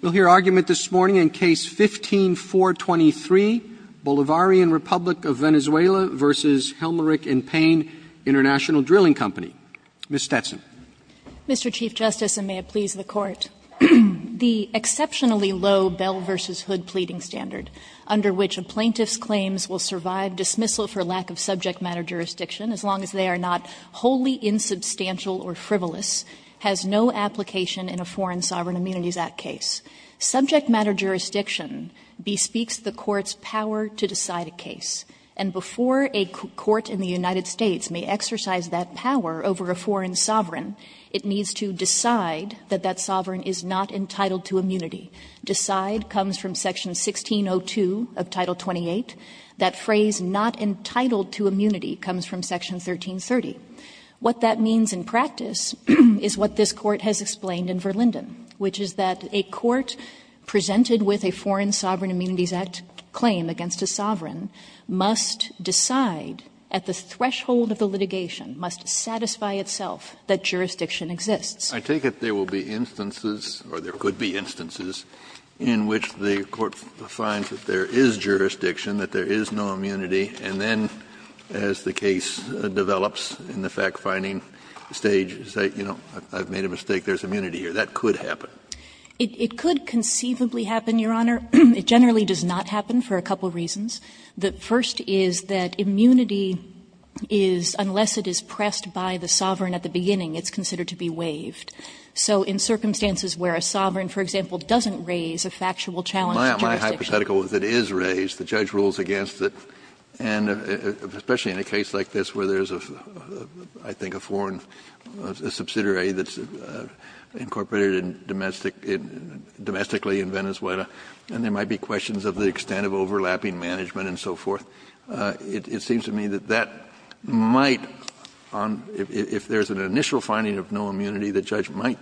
We'll hear argument this morning in Case 15-423, Bolivarian Republic of Venezuela v. Helmerich & Payne Int'l Drilling Co. Ms. Stetson. Mr. Chief Justice, and may it please the Court, the exceptionally low Bell v. Hood pleading standard, under which a plaintiff's claims will survive dismissal for lack of subject matter jurisdiction as long as they are not wholly insubstantial or frivolous, has no application in a Foreign Sovereign Immunities Act case. Subject matter jurisdiction bespeaks the Court's power to decide a case. And before a court in the United States may exercise that power over a foreign sovereign, it needs to decide that that sovereign is not entitled to immunity. Decide comes from Section 1602 of Title 28. That phrase, not entitled to immunity, comes from Section 1330. What that means in practice is what this Court has explained in Verlinden, which is that a court presented with a Foreign Sovereign Immunities Act claim against a sovereign must decide at the threshold of the litigation, must satisfy itself, that jurisdiction exists. Kennedy. I take it there will be instances, or there could be instances, in which the Court finds that there is jurisdiction, that there is no immunity, and then as the case develops in the fact-finding stage, say, you know, I've made a mistake, there's immunity here. That could happen. It could conceivably happen, Your Honor. It generally does not happen for a couple of reasons. The first is that immunity is, unless it is pressed by the sovereign at the beginning, it's considered to be waived. So in circumstances where a sovereign, for example, doesn't raise a factual challenge to jurisdiction. My hypothetical is it is raised, the judge rules against it, and especially in a case like this where there is, I think, a foreign subsidiary that's incorporated in domestic, domestically in Venezuela, and there might be questions of the extent of overlapping management and so forth. It seems to me that that might, if there is an initial finding of no immunity, the judge might,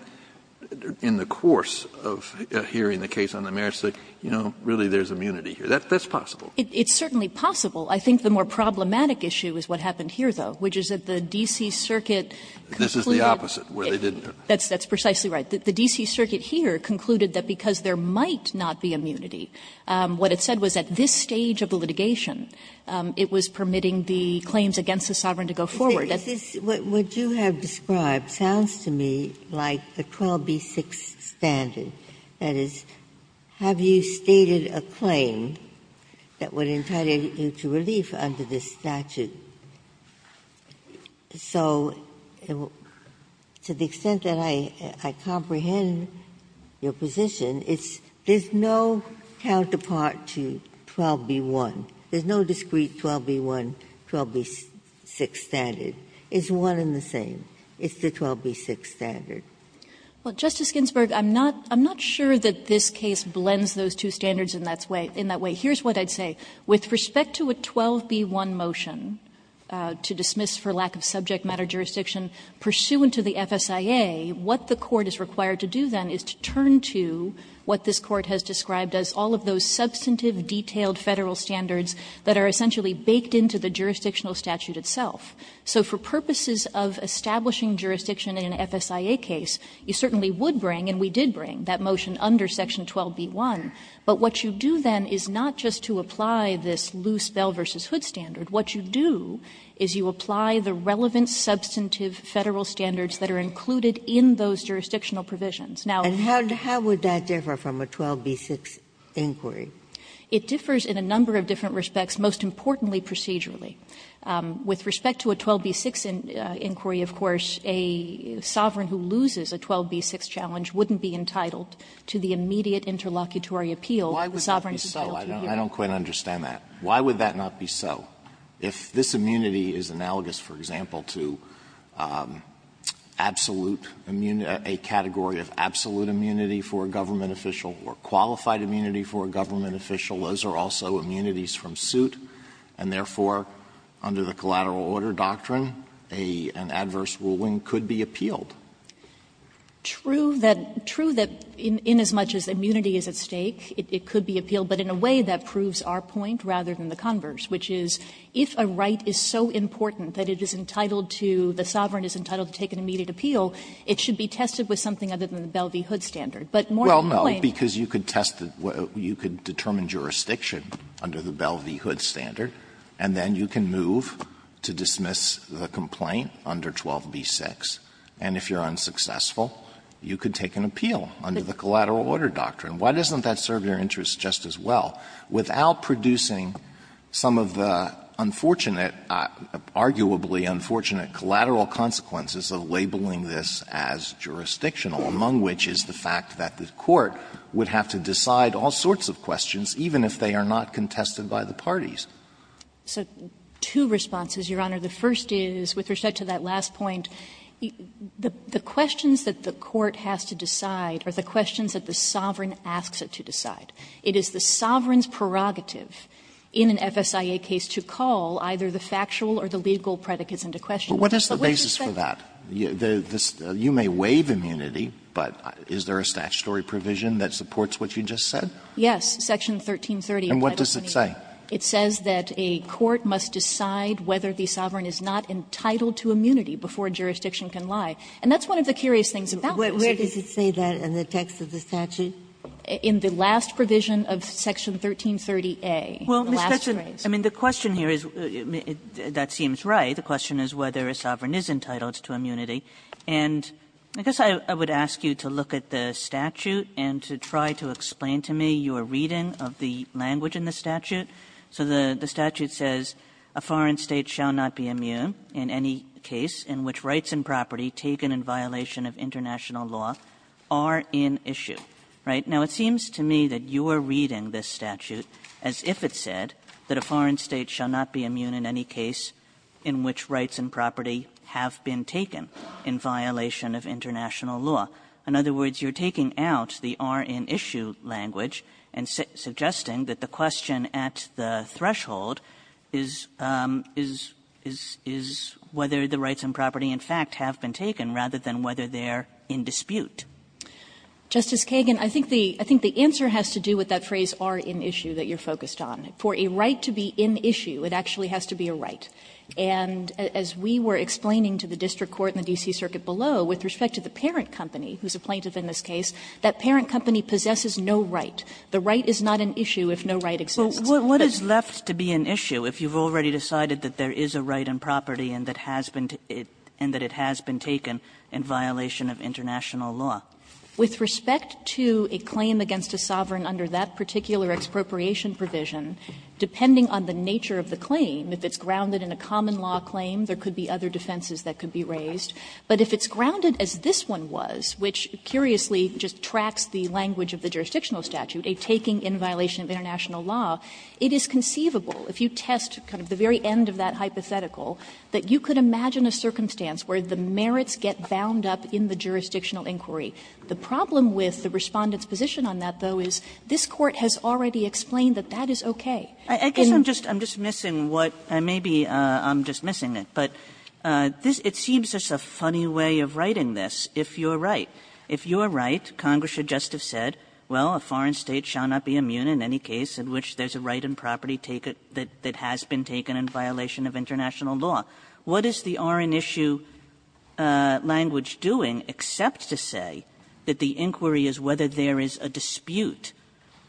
in the course of hearing the case on the merits, say, you know, really there's immunity here. That's possible. It's certainly possible. I think the more problematic issue is what happened here, though, which is that the D.C. Circuit concluded that. Scalia, This is the opposite, where they didn't do it. Kagan That's precisely right. The D.C. Circuit here concluded that because there might not be immunity, what it said was at this stage of the litigation, it was permitting the claims against the sovereign to go forward. Ginsburg What you have described sounds to me like a 12b-6 standard. That is, have you stated a claim that would entitle you to relief under this statute? So to the extent that I comprehend your position, it's there's no counterpart to 12b-1. There's no discrete 12b-1, 12b-6 standard. It's one and the same. It's the 12b-6 standard. Kagan Well, Justice Ginsburg, I'm not sure that this case blends those two standards in that way. Here's what I'd say. With respect to a 12b-1 motion to dismiss for lack of subject matter jurisdiction pursuant to the FSIA, what the Court is required to do, then, is to turn to what this Court has described as all of those substantive, detailed Federal standards that are essentially baked into the jurisdictional statute itself. So for purposes of establishing jurisdiction in an FSIA case, you certainly would bring, and we did bring, that motion under section 12b-1. But what you do, then, is not just to apply this loose Bell v. Hood standard. What you do is you apply the relevant substantive Federal standards that are included in those jurisdictional provisions. Now the question is how would that differ from a 12b-6 inquiry? It differs in a number of different respects, most importantly procedurally. With respect to a 12b-6 inquiry, of course, a sovereign who loses a 12b-6 challenge wouldn't be entitled to the immediate interlocutory appeal if the sovereign failed to adhere to it. Alito, I don't quite understand that. Why would that not be so? If this immunity is analogous, for example, to absolute immunity, a category of absolute immunity for a government official or qualified immunity for a government official, those are also immunities from suit. And therefore, under the collateral order doctrine, an adverse ruling could be appealed. True that as much as immunity is at stake, it could be appealed, but in a way that proves our point rather than the converse, which is if a right is so important that it is entitled to, the sovereign is entitled to take an immediate appeal, it should be tested with something other than the Bell v. Hood standard. But more than plainly the Bell v. Hood standard, the Bell v. Hood standard should be tested with something other than the Bell v. Hood standard, and then you can move to dismiss the complaint under 12b-6, and if you're unsuccessful, you could take an appeal under the collateral order doctrine. Why doesn't that serve your interests just as well, without producing some of the questions that the court would have to decide all sorts of questions, even if they are not contested by the parties? So two responses, Your Honor. The first is, with respect to that last point, the questions that the court has to decide are the questions that the sovereign asks it to decide. It is the sovereign's prerogative in an FSIA case to call either the factual or the legal predicates into question. But what is the basis for that? You may waive immunity, but is there a statutory provision that supports what you just said? Yes, section 1330. And what does it say? It says that a court must decide whether the sovereign is not entitled to immunity before jurisdiction can lie. And that's one of the curious things about this. Where does it say that in the text of the statute? In the last provision of section 1330a. Well, Ms. Kessler, I mean, the question here is, that seems right. The question is whether a sovereign is entitled to immunity. And I guess I would ask you to look at the statute and to try to explain to me your reading of the language in the statute. So the statute says, a foreign state shall not be immune in any case in which rights and property taken in violation of international law are in issue. Right? Now, it seems to me that you are reading this statute as if it said that a foreign state shall not be immune in any case in which rights and property have been taken in violation of international law. In other words, you are taking out the are in issue language and suggesting that the question at the threshold is whether the rights and property, in fact, have been taken rather than whether they are in dispute. Justice Kagan, I think the answer has to do with that phrase, are in issue, that you are focused on. For a right to be in issue, it actually has to be a right. And as we were explaining to the district court and the D.C. Circuit below, with respect to the parent company, who is a plaintiff in this case, that parent company possesses no right. The right is not in issue if no right exists. Kagan, what is left to be in issue if you have already decided that there is a right in property and that it has been taken in violation of international law? With respect to a claim against a sovereign under that particular expropriation provision, depending on the nature of the claim, if it's grounded in a common law claim, there could be other defenses that could be raised. But if it's grounded as this one was, which curiously just tracks the language of the jurisdictional statute, a taking in violation of international law, it is conceivable if you test kind of the very end of that hypothetical, that you could imagine a circumstance where the merits get bound up in the jurisdictional inquiry. The problem with the Respondent's position on that, though, is this Court has already explained that that is okay. Kagan, I'm just missing what and maybe I'm just missing it but it seems as a funny way of writing this. If you are right, if you are right, Congress should just have said, well, a foreign State shall not be immune in any case in which there is a right in property taken that has been taken in violation of international law. What is the R in issue language doing except to say that the inquiry is whether there is a dispute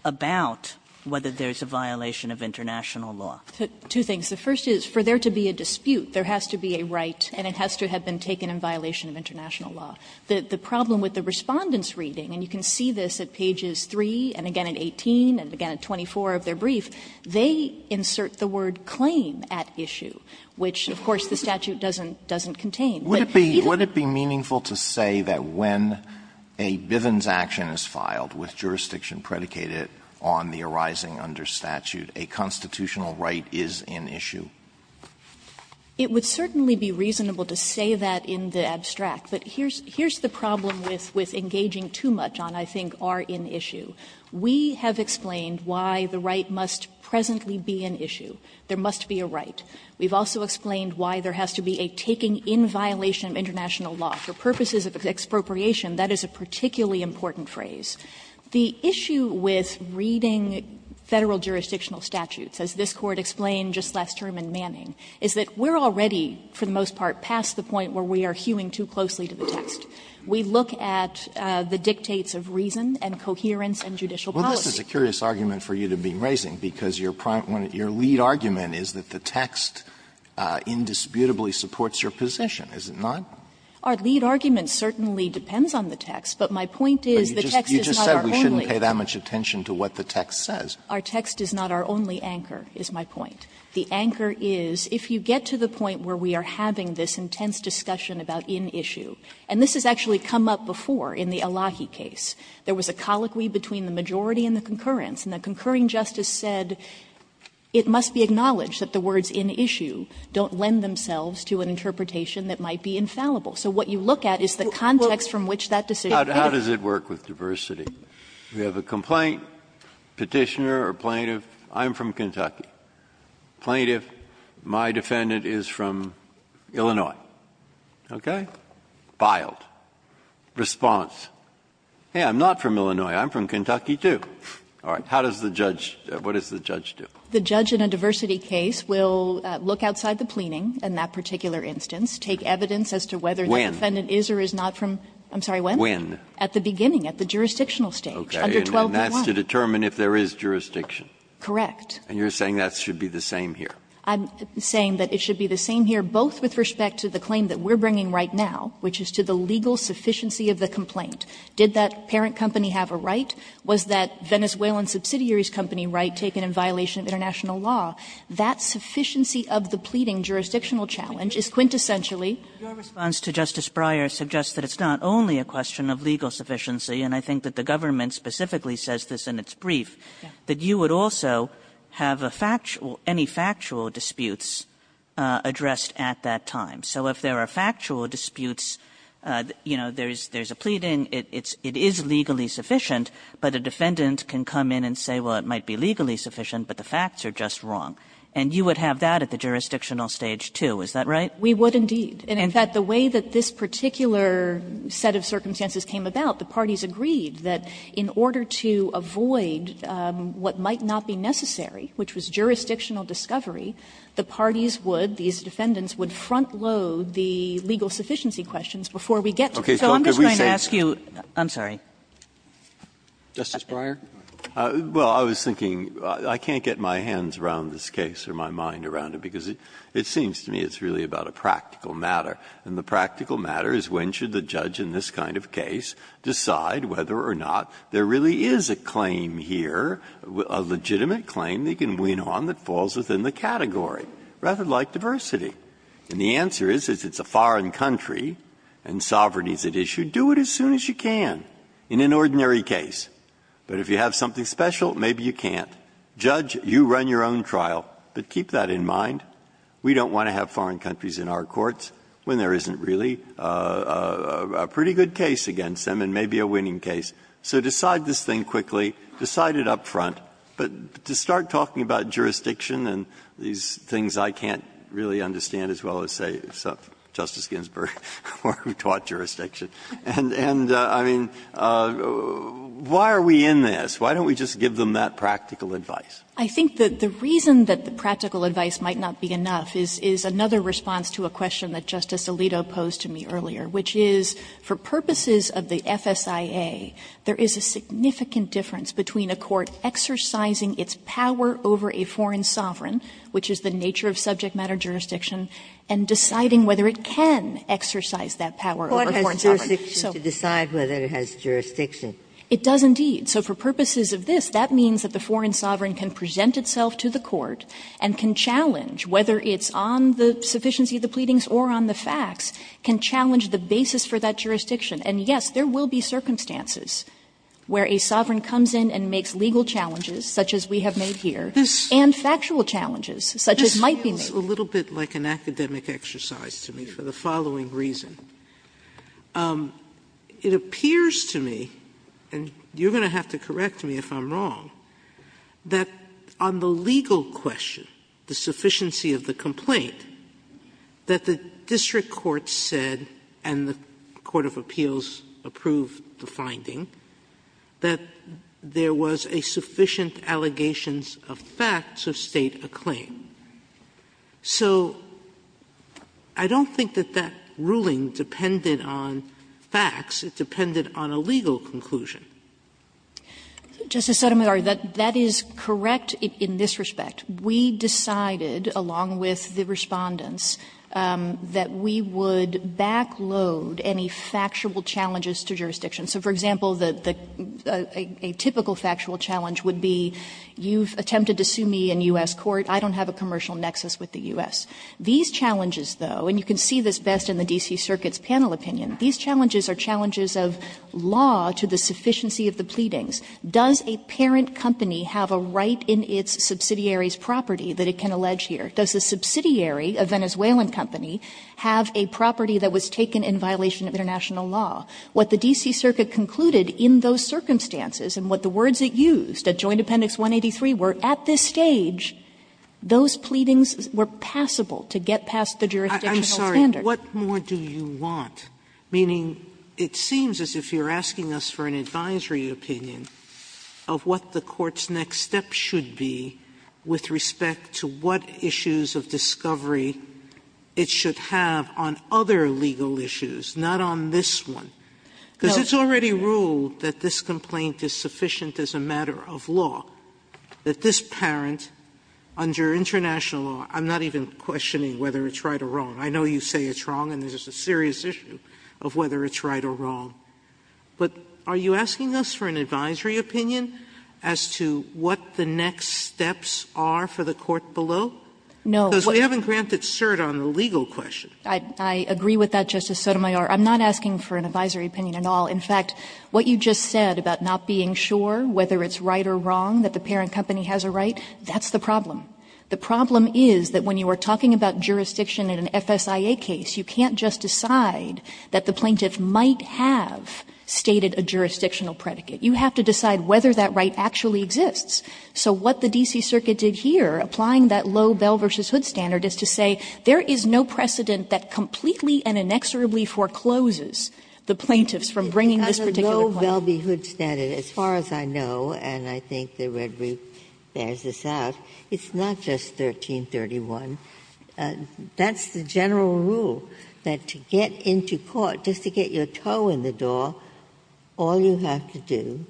about whether there's a violation of international law? Kagan. Two things. The first is for there to be a dispute, there has to be a right and it has to have been taken in violation of international law. The problem with the Respondent's reading, and you can see this at pages 3 and again at 18 and again at 24 of their brief, they insert the word claim at issue, which of course the statute doesn't contain. Alito, would it be meaningful to say that when a Bivens action is filed with jurisdiction predicated on the arising under statute, a constitutional right is in issue? It would certainly be reasonable to say that in the abstract, but here's the problem with engaging too much on, I think, R in issue. We have explained why the right must presently be an issue. There must be a right. We've also explained why there has to be a taking in violation of international law. For purposes of expropriation, that is a particularly important phrase. The issue with reading Federal jurisdictional statutes, as this Court explained just last term in Manning, is that we're already, for the most part, past the point where we are hewing too closely to the text. We look at the dictates of reason and coherence and judicial policy. Alito, this is a curious argument for you to be raising, because your prime one, your lead argument, is that the text indisputably supports your position, is it not? Our lead argument certainly depends on the text, but my point is the text is not our only anchor. You just said we shouldn't pay that much attention to what the text says. Our text is not our only anchor, is my point. The anchor is, if you get to the point where we are having this intense discussion about in issue, and this has actually come up before in the Elahi case, there was a colloquy between the majority and the concurrence. And the concurring justice said it must be acknowledged that the words in issue don't lend themselves to an interpretation that might be infallible. So what you look at is the context from which that decision came. Breyer. How does it work with diversity? We have a complaint, Petitioner or Plaintiff, I'm from Kentucky. Plaintiff, my defendant is from Illinois. Okay? Filed. Response, hey, I'm not from Illinois, I'm from Kentucky, too. All right. How does the judge, what does the judge do? The judge in a diversity case will look outside the pleaning in that particular instance, take evidence as to whether the defendant is or is not from, I'm sorry, when? When? At the beginning, at the jurisdictional stage, under 12.1. Okay. And that's to determine if there is jurisdiction. Correct. And you're saying that should be the same here? I'm saying that it should be the same here, both with respect to the claim that we're bringing right now, which is to the legal sufficiency of the complaint. Did that parent company have a right? Was that Venezuelan subsidiary's company right taken in violation of international law? That sufficiency of the pleading jurisdictional challenge is quintessentially Your response to Justice Breyer suggests that it's not only a question of legal sufficiency, and I think that the government specifically says this in its brief, that you would also have a factual, any factual disputes addressed at that time. So if there are factual disputes, you know, there's a pleading, it is legally sufficient, but a defendant can come in and say, well, it might be legally sufficient, but the facts are just wrong. And you would have that at the jurisdictional stage, too, is that right? We would, indeed. And in fact, the way that this particular set of circumstances came about, the parties agreed that in order to avoid what might not be necessary, which was jurisdictional discovery, the parties would, these defendants, would front load the legal sufficiency questions before we get to them. So I'm just going to ask you, I'm sorry. Roberts, Justice Breyer. Breyer, well, I was thinking, I can't get my hands around this case or my mind around it, because it seems to me it's really about a practical matter. And the practical matter is when should the judge in this kind of case decide whether or not there really is a claim here, a legitimate claim they can win on that falls within the category, rather like diversity. And the answer is, if it's a foreign country and sovereignty is at issue, do it as soon as you can in an ordinary case. But if you have something special, maybe you can't. Judge, you run your own trial. But keep that in mind. We don't want to have foreign countries in our courts when there isn't really a pretty good case against them and maybe a winning case. So decide this thing quickly. Decide it up front. But to start talking about jurisdiction and these things I can't really understand as well as, say, Justice Ginsburg, who taught jurisdiction, and I mean, why are we in this? Why don't we just give them that practical advice? I think that the reason that the practical advice might not be enough is another response to a question that Justice Alito posed to me earlier, which is for purposes of the FSIA, there is a significant difference between a court exercising its power over a foreign sovereign, which is the nature of subject matter jurisdiction, and deciding whether it can exercise that power over a foreign sovereign. Ginsburg. Ginsburg. It does indeed. So for purposes of this, that means that the foreign sovereign can present itself to the court and can challenge, whether it's on the sufficiency of the pleadings or on the facts, can challenge the basis for that jurisdiction. And, yes, there will be circumstances where a sovereign comes in and makes legal challenges, such as we have made here, and factual challenges, such as might be made. Sotomayor, this feels a little bit like an academic exercise to me for the following reason. It appears to me, and you're going to have to correct me if I'm wrong, that on the district court said, and the court of appeals approved the finding, that there was a sufficient allegations of facts of State acclaim. So I don't think that that ruling depended on facts. It depended on a legal conclusion. Justice Sotomayor, that is correct in this respect. We decided, along with the Respondents, that we would back load any factual challenges to jurisdiction. So, for example, a typical factual challenge would be, you've attempted to sue me in U.S. court, I don't have a commercial nexus with the U.S. These challenges, though, and you can see this best in the D.C. Circuit's panel opinion, these challenges are challenges of law to the sufficiency of the pleadings. Does a parent company have a right in its subsidiary's property that it can allege here? Does a subsidiary, a Venezuelan company, have a property that was taken in violation of international law? What the D.C. Circuit concluded in those circumstances and what the words it used at Joint Appendix 183 were, at this stage, those pleadings were passable to get past the jurisdictional standard. Sotomayor, I'm sorry. What more do you want? Meaning, it seems as if you're asking us for an advisory opinion of what the court's next step should be with respect to what issues of discovery it should have on other legal issues, not on this one. Because it's already ruled that this complaint is sufficient as a matter of law, that this parent, under international law, I'm not even questioning whether it's right or wrong. I know you say it's wrong, and this is a serious issue of whether it's right or wrong. But are you asking us for an advisory opinion as to what the next steps are for the court below? No. Because we haven't granted cert on the legal question. I agree with that, Justice Sotomayor. I'm not asking for an advisory opinion at all. In fact, what you just said about not being sure whether it's right or wrong, that the parent company has a right, that's the problem. The problem is that when you are talking about jurisdiction in an FSIA case, you can't just decide that the plaintiff might have stated a jurisdictional predicate. You have to decide whether that right actually exists. So what the D.C. Circuit did here, applying that low Bell v. Hood standard, is to say there is no precedent that completely and inexorably forecloses the plaintiffs from bringing this particular claim. Ginsburg. It's a low Bell v. Hood standard, as far as I know, and I think the Red Roof bears this out. It's not just 1331. That's the general rule, that to get into court, just to get your toe in the door, all you have to do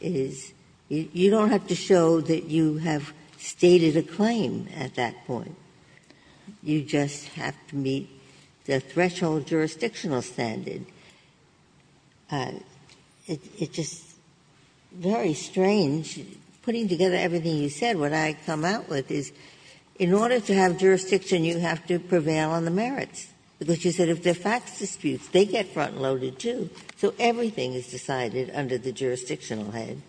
is you don't have to show that you have stated a claim at that point. You just have to meet the threshold jurisdictional standard. It's just very strange, putting together everything you said, what I come out with is, in order to have jurisdiction, you have to prevail on the merits, because you said if they're facts disputes, they get front and loaded, too. So everything is decided under the jurisdictional head.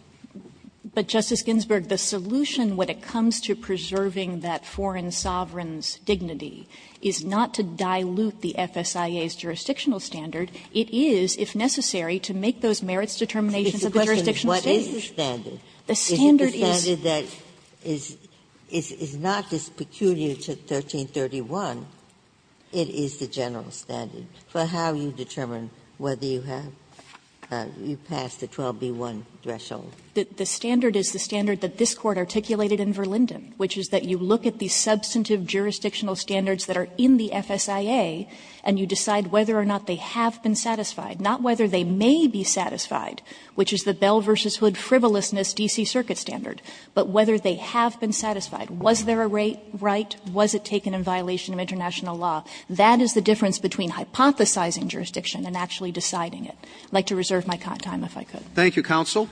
But, Justice Ginsburg, the solution when it comes to preserving that foreign sovereign's dignity is not to dilute the FSIA's jurisdictional standard. It is, if necessary, to make those merits determinations of the jurisdictional standard. Ginsburg. The standard is. Ginsburg. Is it the standard that is not this peculiar to 1331? It is the general standard for how you determine whether you have you pass the 12B1 threshold. The standard is the standard that this Court articulated in Verlinden, which is that you look at the substantive jurisdictional standards that are in the FSIA and you decide whether or not they have been satisfied, not whether they may be satisfied, which is the Bell v. Hood frivolousness D.C. Circuit standard, but whether they have been satisfied. Was there a right? Was it taken in violation of international law? That is the difference between hypothesizing jurisdiction and actually deciding it. I would like to reserve my time if I could. Thank you, counsel.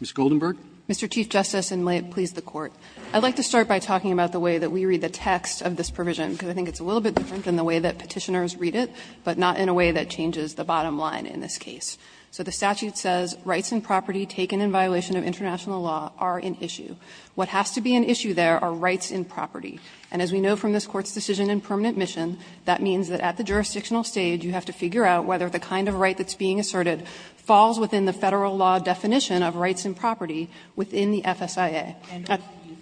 Ms. Goldenberg. Mr. Chief Justice, and may it please the Court. I would like to start by talking about the way that we read the text of this provision, because I think it's a little bit different than the way that Petitioners read it, but not in a way that changes the bottom line in this case. So the statute says rights and property taken in violation of international law are in issue. What has to be in issue there are rights in property. And as we know from this Court's decision in permanent mission, that means that at the jurisdictional stage you have to figure out whether the kind of right that's being asserted falls within the Federal law definition of rights and property within the FSIA. Kagan. Kagan.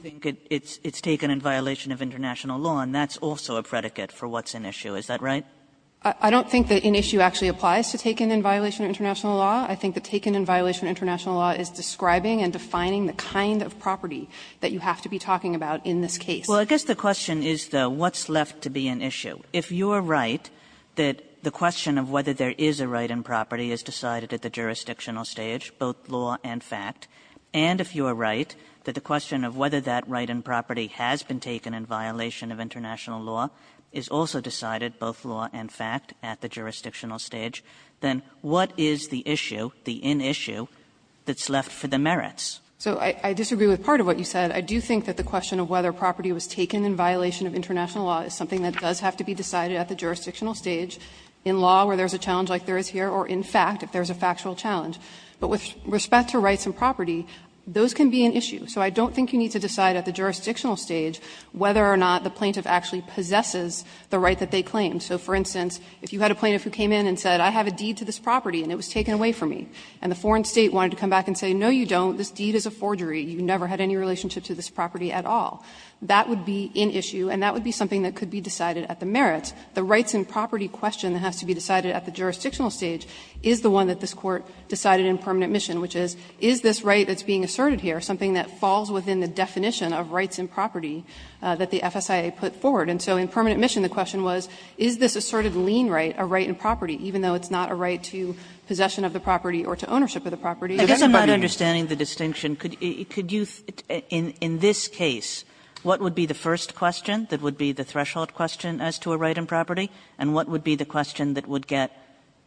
Kagan. Kagan. Kagan. Kagan. Kagan. Kagan. Kagan. Kagan. Kagan. Kagan. Kagan. I think that taken in violation of international law is describing and defining the kind of property that you have to be talking about in this case. Kagan. Kagan. Kagan. Kagan. Kagan. Kagan. Kagan. Kagan. Kagan. Kagan. Kagan. Kagan. Kagan. is decided at the jurisdictional stage, both law and fact. And if you are right that the question of whether that right in property has been taken in violation of international law is also decided, both law and fact, at the jurisdictional stage, then what is the issue, the in-issue, that's left for the merits? So I disagree with part of what you said. I do think that the question of whether property was taken in violation of international law is something that does have to be decided at the jurisdictional stage in law where there's a challenge like there is here, or in fact, if there's a factual challenge. So I don't think you need to decide at the jurisdictional stage whether or not the plaintiff actually possesses the right that they claim. So, for instance, if you had a plaintiff who came in and said, I have a deed to this property and it was taken away from me, and the foreign state wanted to come back and say, no, you don't, this deed is a forgery, you never had any relationship to this property at all, that would be in issue and that would be something that could be decided at the merits. The rights in property question that has to be decided at the jurisdictional stage is the one that this Court decided in permanent mission, which is, is this right that's being asserted here something that falls within the definition of rights in property that the FSIA put forward? And so in permanent mission the question was, is this asserted lien right a right in property even though it's not a right to possession of the property or to ownership of the property. Kagan I guess I'm not understanding the distinction. Could you – in this case, what would be the first question that would be the threshold question as to a right in property, and what would be the question that would get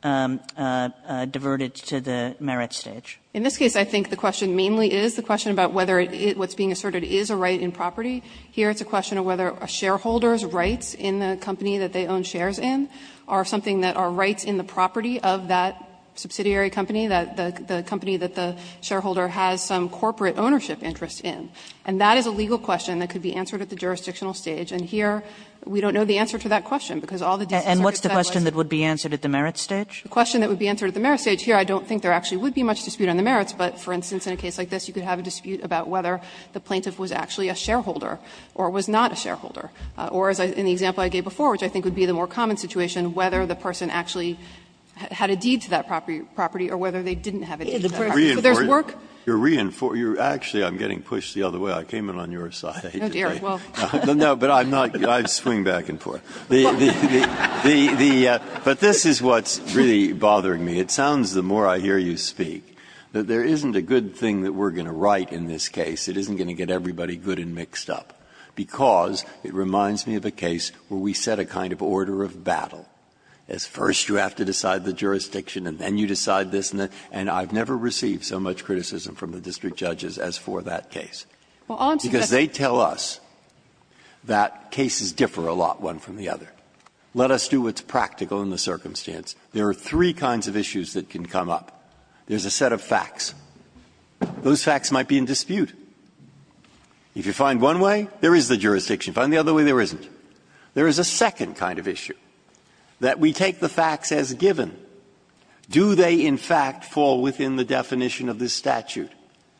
diverted to the merits stage? In this case, I think the question mainly is the question about whether what's being asserted is a right in property. Here it's a question of whether a shareholder's rights in the company that they own shares in are something that are rights in the property of that subsidiary company, the company that the shareholder has some corporate ownership interest in. And that is a legal question that could be answered at the jurisdictional stage. And here we don't know the answer to that question because all the decisions are based on what's the question that would be answered at the merits stage? The question that would be answered at the merits stage, here I don't think there actually would be much dispute on the merits, but, for instance, in a case like this, you could have a dispute about whether the plaintiff was actually a shareholder or was not a shareholder. Or, as in the example I gave before, which I think would be the more common situation, whether the person actually had a deed to that property or whether they didn't have a deed to that property. So there's work. Breyer You're reinforcing – actually, I'm getting pushed the other way. I came in on your side. No, but I'm not – I swing back and forth. But this is what's really bothering me. It sounds, the more I hear you speak, that there isn't a good thing that we're going to write in this case. It isn't going to get everybody good and mixed up, because it reminds me of a case where we set a kind of order of battle, as first you have to decide the jurisdiction and then you decide this and that. And I've never received so much criticism from the district judges as for that case. Because they tell us that cases differ a lot, one from the other. Let us do what's practical in the circumstance. There are three kinds of issues that can come up. There's a set of facts. Those facts might be in dispute. If you find one way, there is the jurisdiction. If you find the other way, there isn't. There is a second kind of issue, that we take the facts as given. Do they in fact fall within the definition of this statute?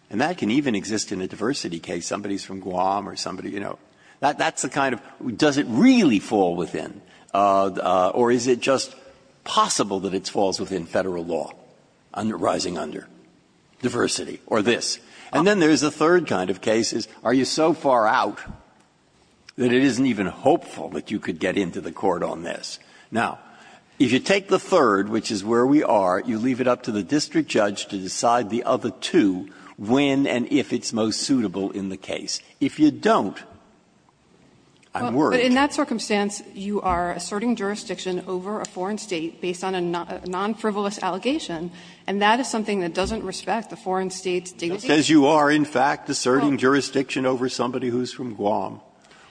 And that can even exist in a diversity case. Somebody is from Guam or somebody, you know. That's the kind of – does it really fall within? Or is it just possible that it falls within Federal law, under – rising under diversity, or this? And then there is a third kind of case, are you so far out that it isn't even hopeful that you could get into the court on this? Now, if you take the third, which is where we are, you leave it up to the district judge to decide the other two when and if it's most suitable in the case. If you don't, I'm worried. But in that circumstance, you are asserting jurisdiction over a foreign state based on a non-frivolous allegation, and that is something that doesn't respect the foreign State's dignity. Breyer, in fact, asserting jurisdiction over somebody who is from Guam,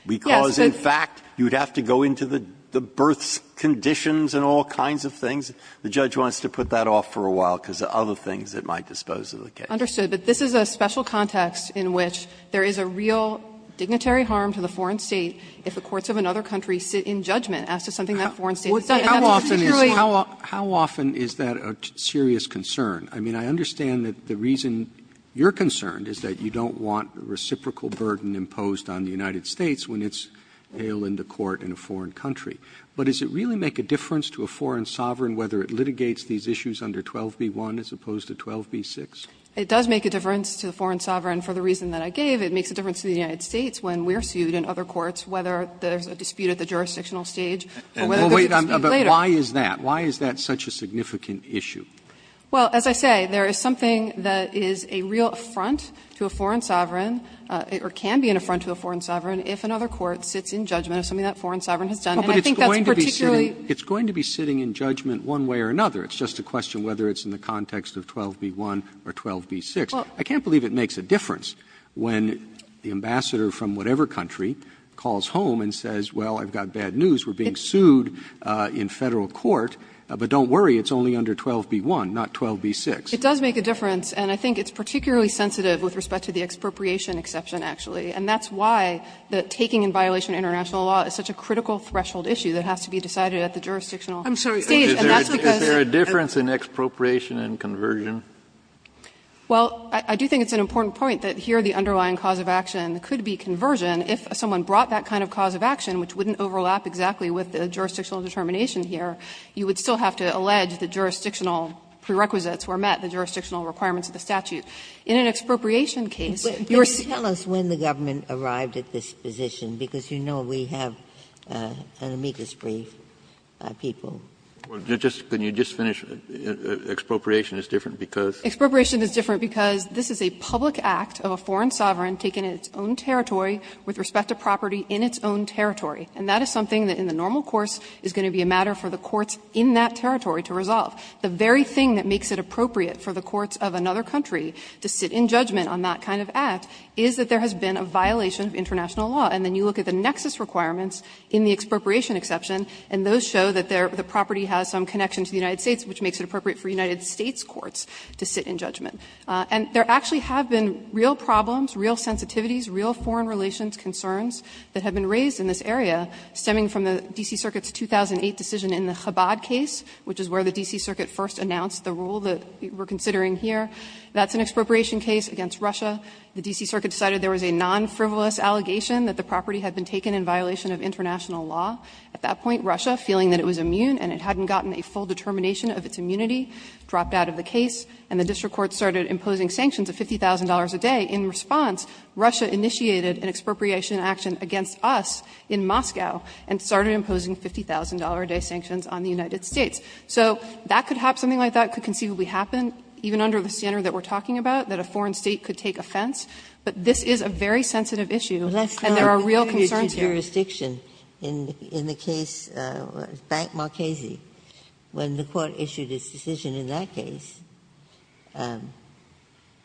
because in fact, you would have to go into the birth conditions and all kinds of things. The judge wants to put that off for a while because of other things that might dispose of the case. Understood. But this is a special context in which there is a real dignitary harm to the foreign State if the courts of another country sit in judgment as to something that foreign State has done. And that's a particularly harmful thing. Roberts, how often is that a serious concern? I mean, I understand that the reason you're concerned is that you don't want a reciprocal burden imposed on the United States when it's hailed into court in a foreign country. But does it really make a difference to a foreign sovereign whether it litigates these issues under 12b-1 as opposed to 12b-6? It does make a difference to a foreign sovereign. For the reason that I gave, it makes a difference to the United States when we are sued in other courts, whether there's a dispute at the jurisdictional stage or whether there's a dispute later. But why is that? Why is that such a significant issue? Well, as I say, there is something that is a real affront to a foreign sovereign or can be an affront to a foreign sovereign if another court sits in judgment of something that a foreign sovereign has done. And I think that's particularly It's going to be sitting in judgment one way or another. It's just a question whether it's in the context of 12b-1 or 12b-6. I can't believe it makes a difference when the ambassador from whatever country calls home and says, well, I've got bad news. We're being sued in Federal court, but don't worry, it's only under 12b-1, not 12b-6. It does make a difference, and I think it's particularly sensitive with respect to the expropriation exception, actually. And that's why the taking in violation of international law is such a critical threshold issue that has to be decided at the jurisdictional stage. And that's because Is there a difference in expropriation and conversion? Well, I do think it's an important point that here the underlying cause of action could be conversion. If someone brought that kind of cause of action, which wouldn't overlap exactly with the jurisdictional determination here, you would still have to allege that jurisdictional prerequisites were met, the jurisdictional requirements of the statute. In an expropriation case, your say Can you tell us when the government arrived at this position? Because you know we have an amicus brief, people. Can you just finish? Expropriation is different because? Expropriation is different because this is a public act of a foreign sovereign taking its own territory with respect to property in its own territory. And that is something that in the normal course is going to be a matter for the courts in that territory to resolve. The very thing that makes it appropriate for the courts of another country to sit in judgment on that kind of act is that there has been a violation of international law. And then you look at the nexus requirements in the expropriation exception, and those show that the property has some connection to the United States, which makes it appropriate for United States courts to sit in judgment. And there actually have been real problems, real sensitivities, real foreign relations concerns that have been raised in this area stemming from the D.C. Circuit's 2008 decision in the Chabad case, which is where the D.C. Circuit first announced the rule that we are considering here. That's an expropriation case against Russia. The D.C. Circuit decided there was a non-frivolous allegation that the property had been taken in violation of international law. At that point, Russia, feeling that it was immune and it hadn't gotten a full determination of its immunity, dropped out of the case, and the district court started imposing sanctions of $50,000 a day. In response, Russia initiated an expropriation action against us in Moscow and started imposing $50,000 a day sanctions on the United States. So that could have been something like that, could conceivably happen, even under the standard that we are talking about, that a foreign state could take offense. But this is a very sensitive issue, and there are real concerns here. Ginsburg, in your jurisdiction, in the case of Bank Marchesi, when the Court issued its decision in that case,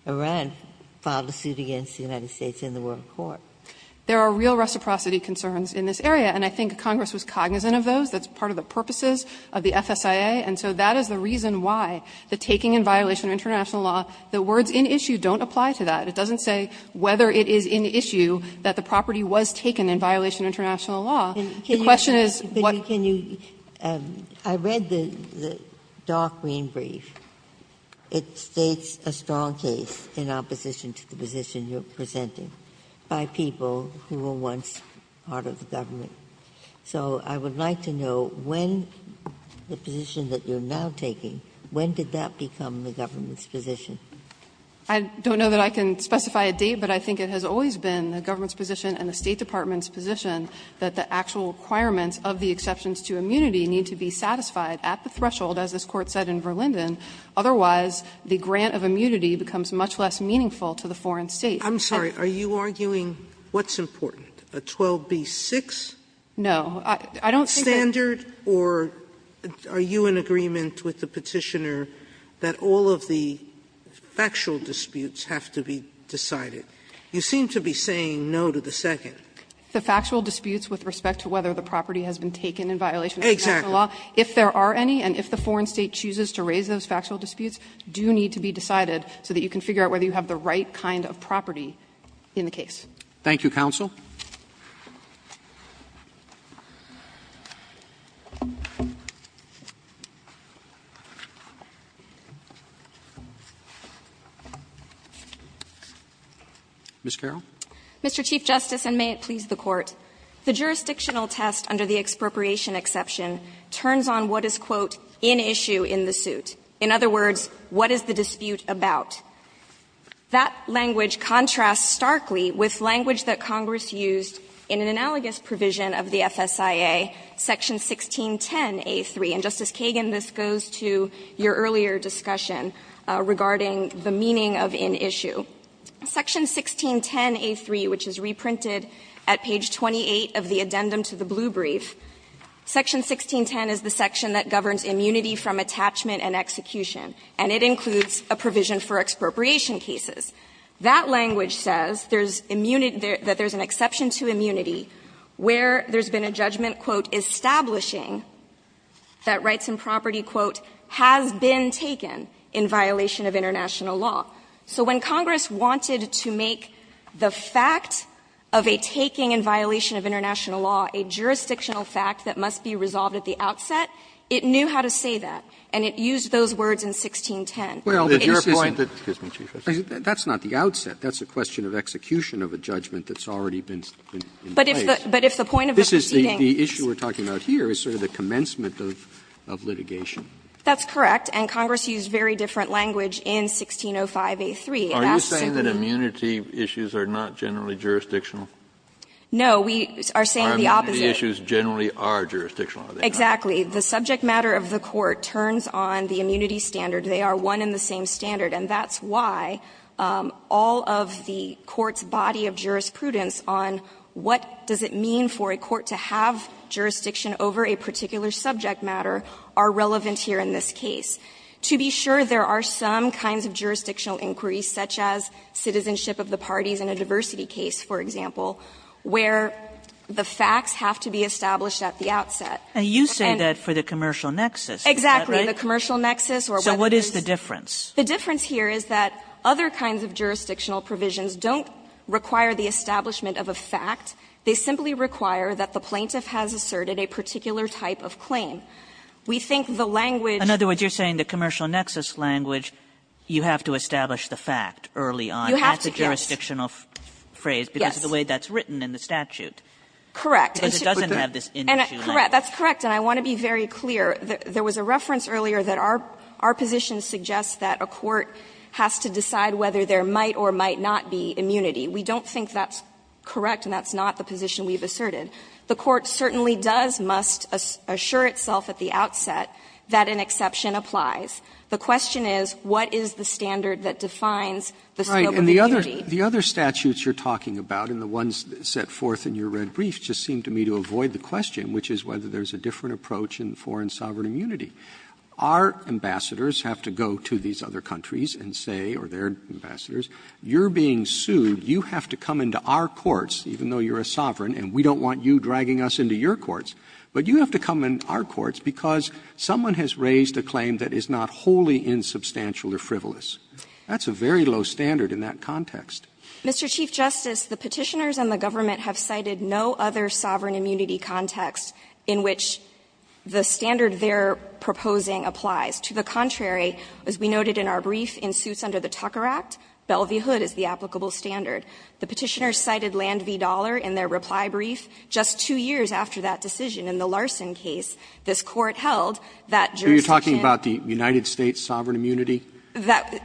Iran filed a suit against the United States in the World Court. There are real reciprocity concerns in this area, and I think Congress was cognizant of those. That's part of the purposes of the FSIA, and so that is the reason why the taking in violation of international law, the words in issue don't apply to that. It doesn't say whether it is in issue that the property was taken in violation of international law. The question is what the question is. Ginsburg, I read the dark green brief. It states a strong case in opposition to the position you are presenting by people who were once part of the government. So I would like to know when the position that you are now taking, when did that become the government's position? I don't know that I can specify a date, but I think it has always been the government's position and the State Department's position that the actual requirements of the exceptions to immunity need to be satisfied at the threshold, as this Court said in Verlinden, otherwise the grant of immunity becomes much less meaningful to the foreign State. Sotomayor, are you arguing what's important, a 12b-6 standard, or are you in agreement with the Petitioner that all of the factual disputes have to be decided? You seem to be saying no to the second. The factual disputes with respect to whether the property has been taken in violation of international law. If there are any, and if the foreign State chooses to raise those factual disputes, do need to be decided so that you can figure out whether you have the right kind of property in the case. Thank you, counsel. Ms. Carroll. Mr. Chief Justice, and may it please the Court. The jurisdictional test under the expropriation exception turns on what is, quote, in issue in the suit. In other words, what is the dispute about? That language contrasts starkly with language that Congress used in an analogous provision of the FSIA, section 1610a3. And, Justice Kagan, this goes to your earlier discussion regarding the meaning of in issue. Section 1610a3, which is reprinted at page 28 of the addendum to the blue brief, section 1610 is the section that governs immunity from attachment and execution, and it includes a provision for expropriation cases. That language says there's immunity that there's an exception to immunity where there's been a judgment, quote, establishing that rights and property, quote, has been taken in violation of international law. So when Congress wanted to make the fact of a taking in violation of international law a jurisdictional fact that must be resolved at the outset, it knew how to say that, and it used those words in 1610. It's your point that that's not the outset. That's a question of execution of a judgment that's already been in place. But if the point of the proceedings. The issue we're talking about here is sort of the commencement of litigation. That's correct, and Congress used very different language in 1605a3. Are you saying that immunity issues are not generally jurisdictional? No, we are saying the opposite. The issues generally are jurisdictional, are they not? Exactly. The subject matter of the court turns on the immunity standard. They are one and the same standard, and that's why all of the court's body of jurisprudence on what does it mean for a court to have jurisdiction over a particular subject matter are relevant here in this case. To be sure, there are some kinds of jurisdictional inquiries, such as citizenship of the parties in a diversity case, for example, where the facts have to be established at the outset. And you say that for the commercial nexus, is that right? Exactly. The commercial nexus or whether it's the difference. The difference here is that other kinds of jurisdictional provisions don't require the establishment of a fact. They simply require that the plaintiff has asserted a particular type of claim. We think the language. In other words, you're saying the commercial nexus language, you have to establish the fact early on. You have to, yes. That's a jurisdictional phrase because of the way that's written in the statute. Correct. Because it doesn't have this in-issue language. That's correct. And I want to be very clear. There was a reference earlier that our position suggests that a court has to decide whether there might or might not be immunity. We don't think that's correct, and that's not the position we've asserted. The court certainly does must assure itself at the outset that an exception applies. The question is, what is the standard that defines the scope of immunity? Right. And the other statutes you're talking about and the ones set forth in your red brief just seem to me to avoid the question, which is whether there's a different approach in foreign sovereign immunity. Our ambassadors have to go to these other countries and say, or their ambassadors, you're being sued. You have to come into our courts, even though you're a sovereign, and we don't want you dragging us into your courts. But you have to come in our courts because someone has raised a claim that is not wholly insubstantial or frivolous. That's a very low standard in that context. Mr. Chief Justice, the Petitioners and the government have cited no other sovereign immunity context in which the standard they're proposing applies. To the contrary, as we noted in our brief, in suits under the Tucker Act, Belle v. Hood is the applicable standard. The Petitioners cited Land v. Dollar in their reply brief. Just two years after that decision in the Larson case, this Court held that jurisdiction So you're talking about the United States sovereign immunity?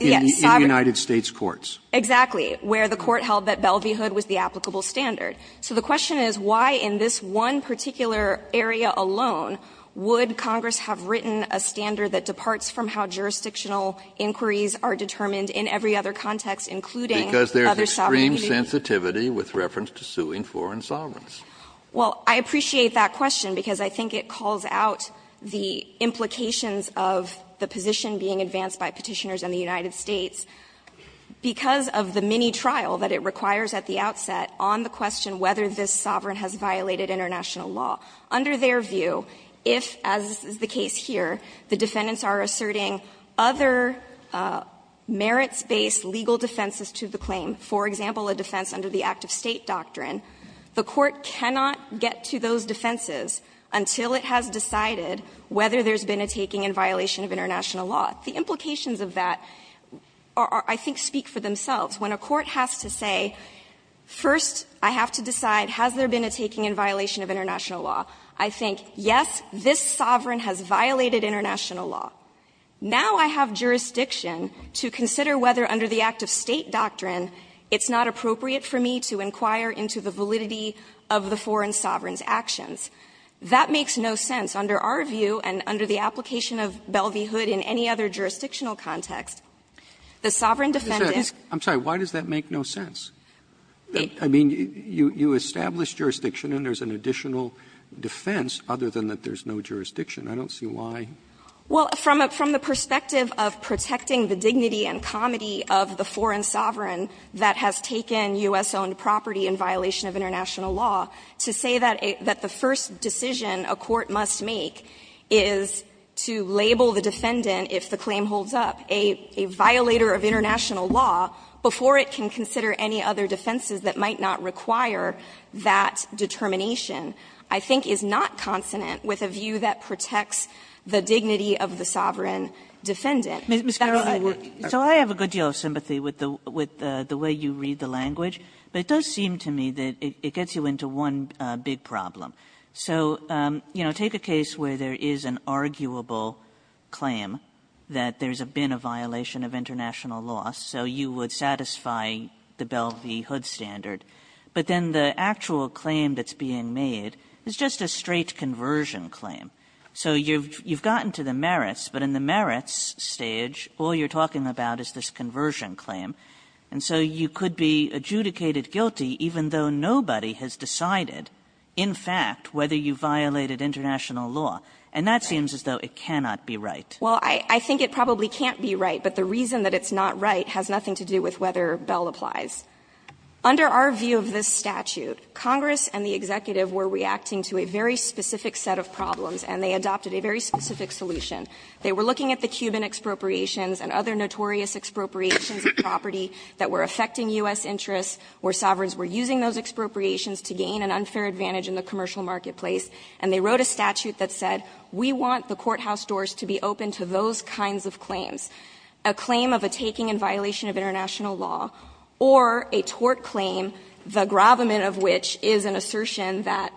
Yes. In United States courts. Exactly. Where the Court held that Belle v. Hood was the applicable standard. So the question is, why in this one particular area alone would Congress have written a standard that departs from how jurisdictional inquiries are determined in every other context, including other sovereign immunity? Because there's extreme sensitivity with reference to suing foreign sovereigns. Well, I appreciate that question, because I think it calls out the implications of the position being advanced by Petitioners and the United States. Because of the mini-trial that it requires at the outset on the question whether this sovereign has violated international law, under their view, if, as is the case here, the defendants are asserting other merits-based legal defenses to the claim, for example, a defense under the act-of-state doctrine, the Court cannot get to those defenses until it has decided whether there's been a taking in violation of international law. The implications of that are, I think, speak for themselves. When a court has to say, first, I have to decide, has there been a taking in violation of international law, I think, yes, this sovereign has violated international law. Now I have jurisdiction to consider whether under the act-of-state doctrine, it's not appropriate for me to inquire into the validity of the foreign sovereign's actions. That makes no sense under our view and under the application of Belle v. Hood in any other jurisdictional context. The sovereign defendant doesn't have jurisdiction to consider whether under the act-of- sovereign's actions. Roberts, I'm sorry, why does that make no sense? I mean, you establish jurisdiction, and there's an additional defense, other than that there's no jurisdiction. I don't see why. Well, from the perspective of protecting the dignity and comity of the foreign defendant, if the claim holds up, a violator of international law, before it can consider any other defenses that might not require that determination, I think, is not consonant with a view that protects the dignity of the sovereign defendant. That's why we're going to look at it. Kagan, so I have a good deal of sympathy with the way you read the language, but it does seem to me that it gets you into one big problem. So, you know, take a case where there is an arguable claim that there's been a violation of international law, so you would satisfy the Belle v. Hood standard, but then the actual claim that's being made is just a straight conversion claim. So you've gotten to the merits, but in the merits stage, all you're talking about is this conversion claim, and so you could be adjudicated guilty even though nobody has decided, in fact, whether you violated international law, and that seems as though it cannot be right. Well, I think it probably can't be right, but the reason that it's not right has nothing to do with whether Belle applies. Under our view of this statute, Congress and the executive were reacting to a very specific set of problems, and they adopted a very specific solution. They were looking at the Cuban expropriations and other notorious expropriations of property that were affecting U.S. interests, where sovereigns were using those expropriations to gain an unfair advantage in the commercial marketplace, and they wrote a statute that said, we want the courthouse doors to be open to those kinds of claims. A claim of a taking in violation of international law or a tort claim, the Grabhaman of which is an assertion that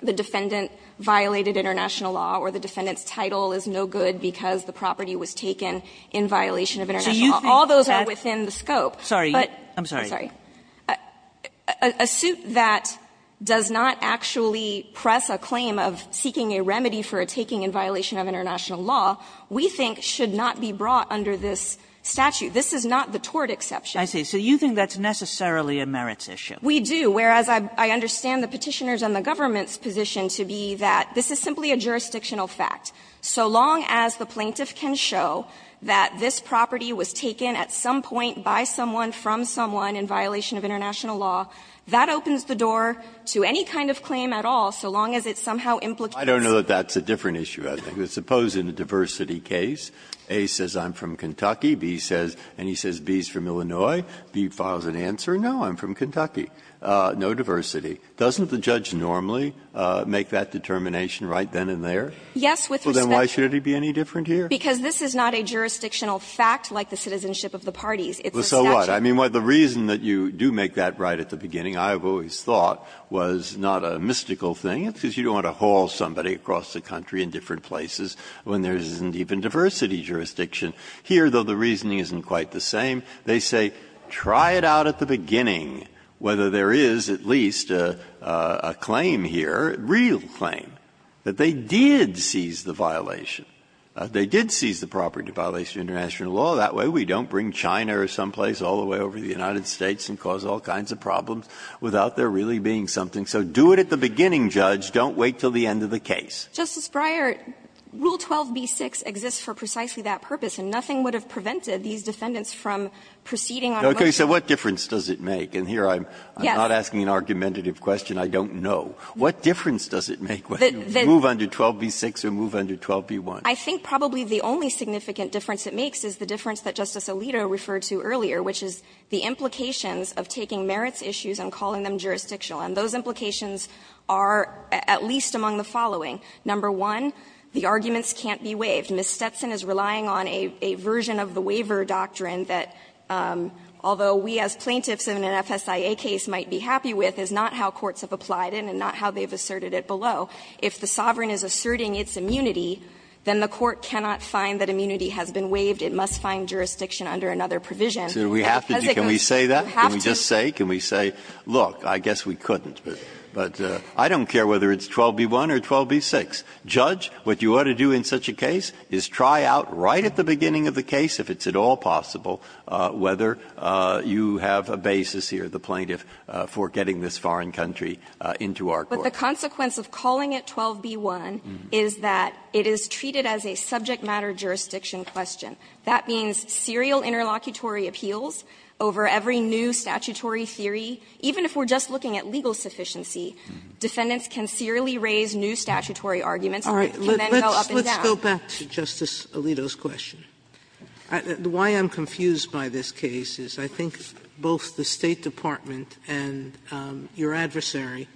the defendant violated international law or the defendant's title is no good because the property was taken in violation of international law. All those are within the scope, but you can't do that. So a claim that does not actually press a claim of seeking a remedy for a taking in violation of international law, we think should not be brought under this statute. This is not the tort exception. I see. So you think that's necessarily a merits issue? We do, whereas I understand the Petitioner's and the government's position to be that this is simply a jurisdictional fact. So long as the plaintiff can show that this property was taken at some point by someone from someone in violation of international law, that opens the door to any kind of claim at all, so long as it somehow implicates. Breyer. I don't know that that's a different issue, I think. Suppose in a diversity case, A says I'm from Kentucky, B says, and he says B is from Illinois, B files an answer, no, I'm from Kentucky, no diversity. Doesn't the judge normally make that determination right then and there? Yes, with respect to. Well, then why should it be any different here? Because this is not a jurisdictional fact like the citizenship of the parties. It's a statute. But, I mean, the reason that you do make that right at the beginning, I have always thought, was not a mystical thing, because you don't want to haul somebody across the country in different places when there isn't even diversity jurisdiction. Here, though, the reasoning isn't quite the same. They say, try it out at the beginning, whether there is at least a claim here, a real claim, that they did seize the violation. They did seize the property in violation of international law. That way, we don't bring China or someplace all the way over to the United States and cause all kinds of problems without there really being something. So do it at the beginning, Judge. Don't wait until the end of the case. Justice Breyer, Rule 12b-6 exists for precisely that purpose, and nothing would have prevented these defendants from proceeding on a motion. Okay. So what difference does it make? And here I'm not asking an argumentative question I don't know. What difference does it make whether you move under 12b-6 or move under 12b-1? I think probably the only significant difference it makes is the difference that Justice Alito referred to earlier, which is the implications of taking merits issues and calling them jurisdictional. And those implications are at least among the following. Number one, the arguments can't be waived. Ms. Stetson is relying on a version of the waiver doctrine that, although we as plaintiffs in an FSIA case might be happy with, is not how courts have applied it and not how they have asserted it below. If the sovereign is asserting its immunity, then the court cannot find that immunity has been waived. It must find jurisdiction under another provision. Breyer, can we say that? Can we just say? Can we say, look, I guess we couldn't, but I don't care whether it's 12b-1 or 12b-6. Judge, what you ought to do in such a case is try out right at the beginning of the case, if it's at all possible, whether you have a basis here, the plaintiff for getting this foreign country into our court. But the consequence of calling it 12b-1 is that it is treated as a subject matter jurisdiction question. That means serial interlocutory appeals over every new statutory theory, even if we're just looking at legal sufficiency, defendants can serially raise new statutory arguments and then go up and down. Sotomayor, let's go back to Justice Alito's question. Why I'm confused by this case is I think both the State Department and your adversary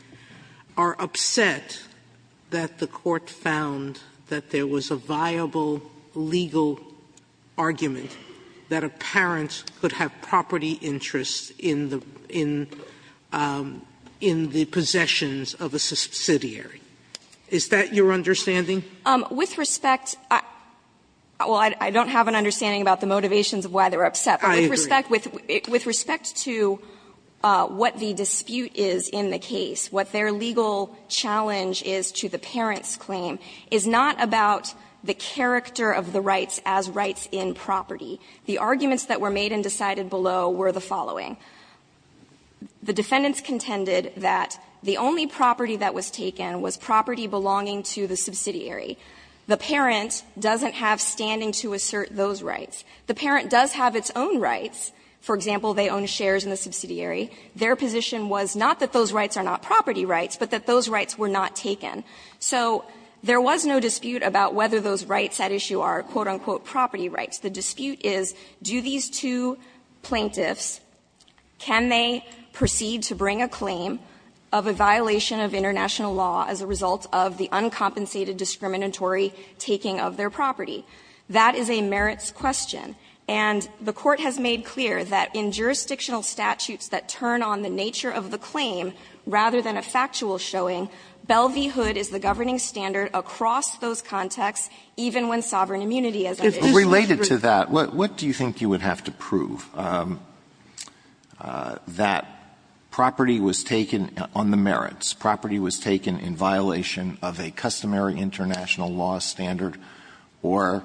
are upset that the Court found that there was a viable legal argument that a parent could have property interests in the possessions of a subsidiary. Is that your understanding? With respect to the motivations of why they're upset, but with respect to what the dispute is in the case, what their legal challenge is to the parent's claim, is not about the character of the rights as rights in property. The arguments that were made and decided below were the following. The defendants contended that the only property that was taken was property belonging to the subsidiary. The parent doesn't have standing to assert those rights. The parent does have its own rights. For example, they own shares in the subsidiary. Their position was not that those rights are not property rights, but that those rights were not taken. So there was no dispute about whether those rights at issue are, quote, unquote, property rights. The dispute is, do these two plaintiffs, can they proceed to bring a claim of a violation of international law as a result of the uncompensated discriminatory taking of their property? That is a merits question. And the Court has made clear that in jurisdictional statutes that turn on the nature of the claim rather than a factual showing, Belle v. Hood is the governing standard across those contexts, even when sovereign immunity as an issue is true. Alito Related to that, what do you think you would have to prove? That property was taken on the merits, property was taken in violation of a customary international law standard, or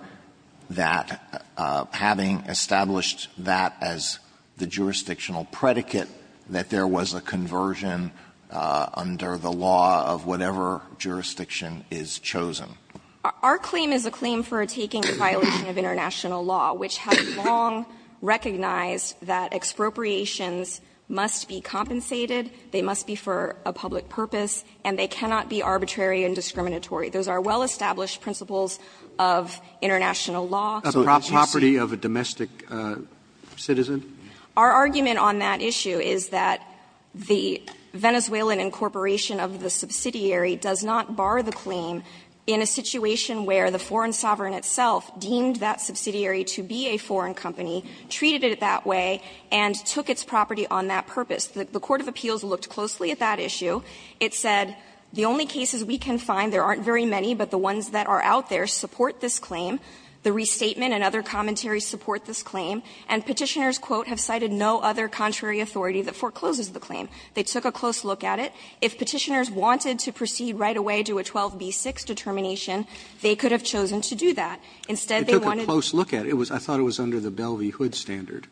that having established that as the jurisdictional predicate, that there was a conversion under the law of whatever jurisdiction is chosen? Our claim is a claim for a taking in violation of international law, which has long recognized that expropriations must be compensated, they must be for a public purpose, and they cannot be arbitrary and discriminatory. Those are well-established principles of international law. Roberts Property of a domestic citizen? Our argument on that issue is that the Venezuelan incorporation of the subsidiary does not bar the claim in a situation where the foreign sovereign itself deemed that subsidiary to be a foreign company, treated it that way, and took its property on that purpose. The court of appeals looked closely at that issue. It said, the only cases we can find, there aren't very many, but the ones that are out there, support this claim. The restatement and other commentaries support this claim. And Petitioners, quote, have cited no other contrary authority that forecloses the claim. They took a close look at it. If Petitioners wanted to proceed right away to a 12b-6 determination, they could have chosen to do that. Instead, they wanted to do that. Roberts It took a close look at it. I thought it was under the Belle v. Hood standard.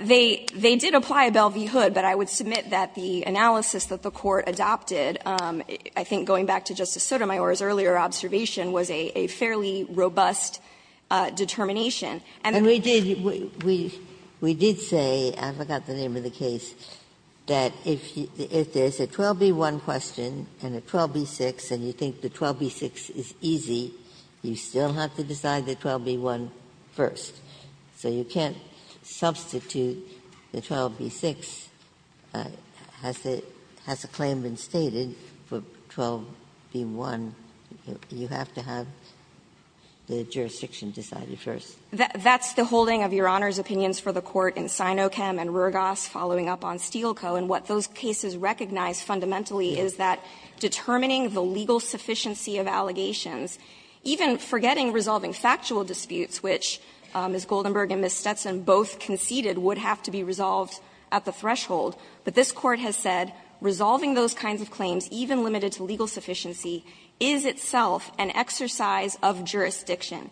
They did apply a Belle v. Hood, but I would submit that the analysis that the court adopted, I think going back to Justice Sotomayor's earlier observation, was a fairly robust determination. And then we did say, I forgot the name of the case, that if there's a 12b-1 question and a 12b-6 and you think the 12b-6 is easy, you still have to decide the 12b-1 first. So you can't substitute the 12b-6. Has the claim been stated for 12b-1? You have to have the jurisdiction decided first. Anderson That's the holding of Your Honor's opinions for the Court in Sinochem and Ruergas following up on Stiegelko. And what those cases recognize fundamentally is that determining the legal sufficiency of allegations, even forgetting resolving factual disputes, which Ms. Goldenberg and Ms. Stetson both conceded would have to be resolved at the threshold, but this Court has said resolving those kinds of claims, even limited to legal sufficiency, is itself an exercise of jurisdiction.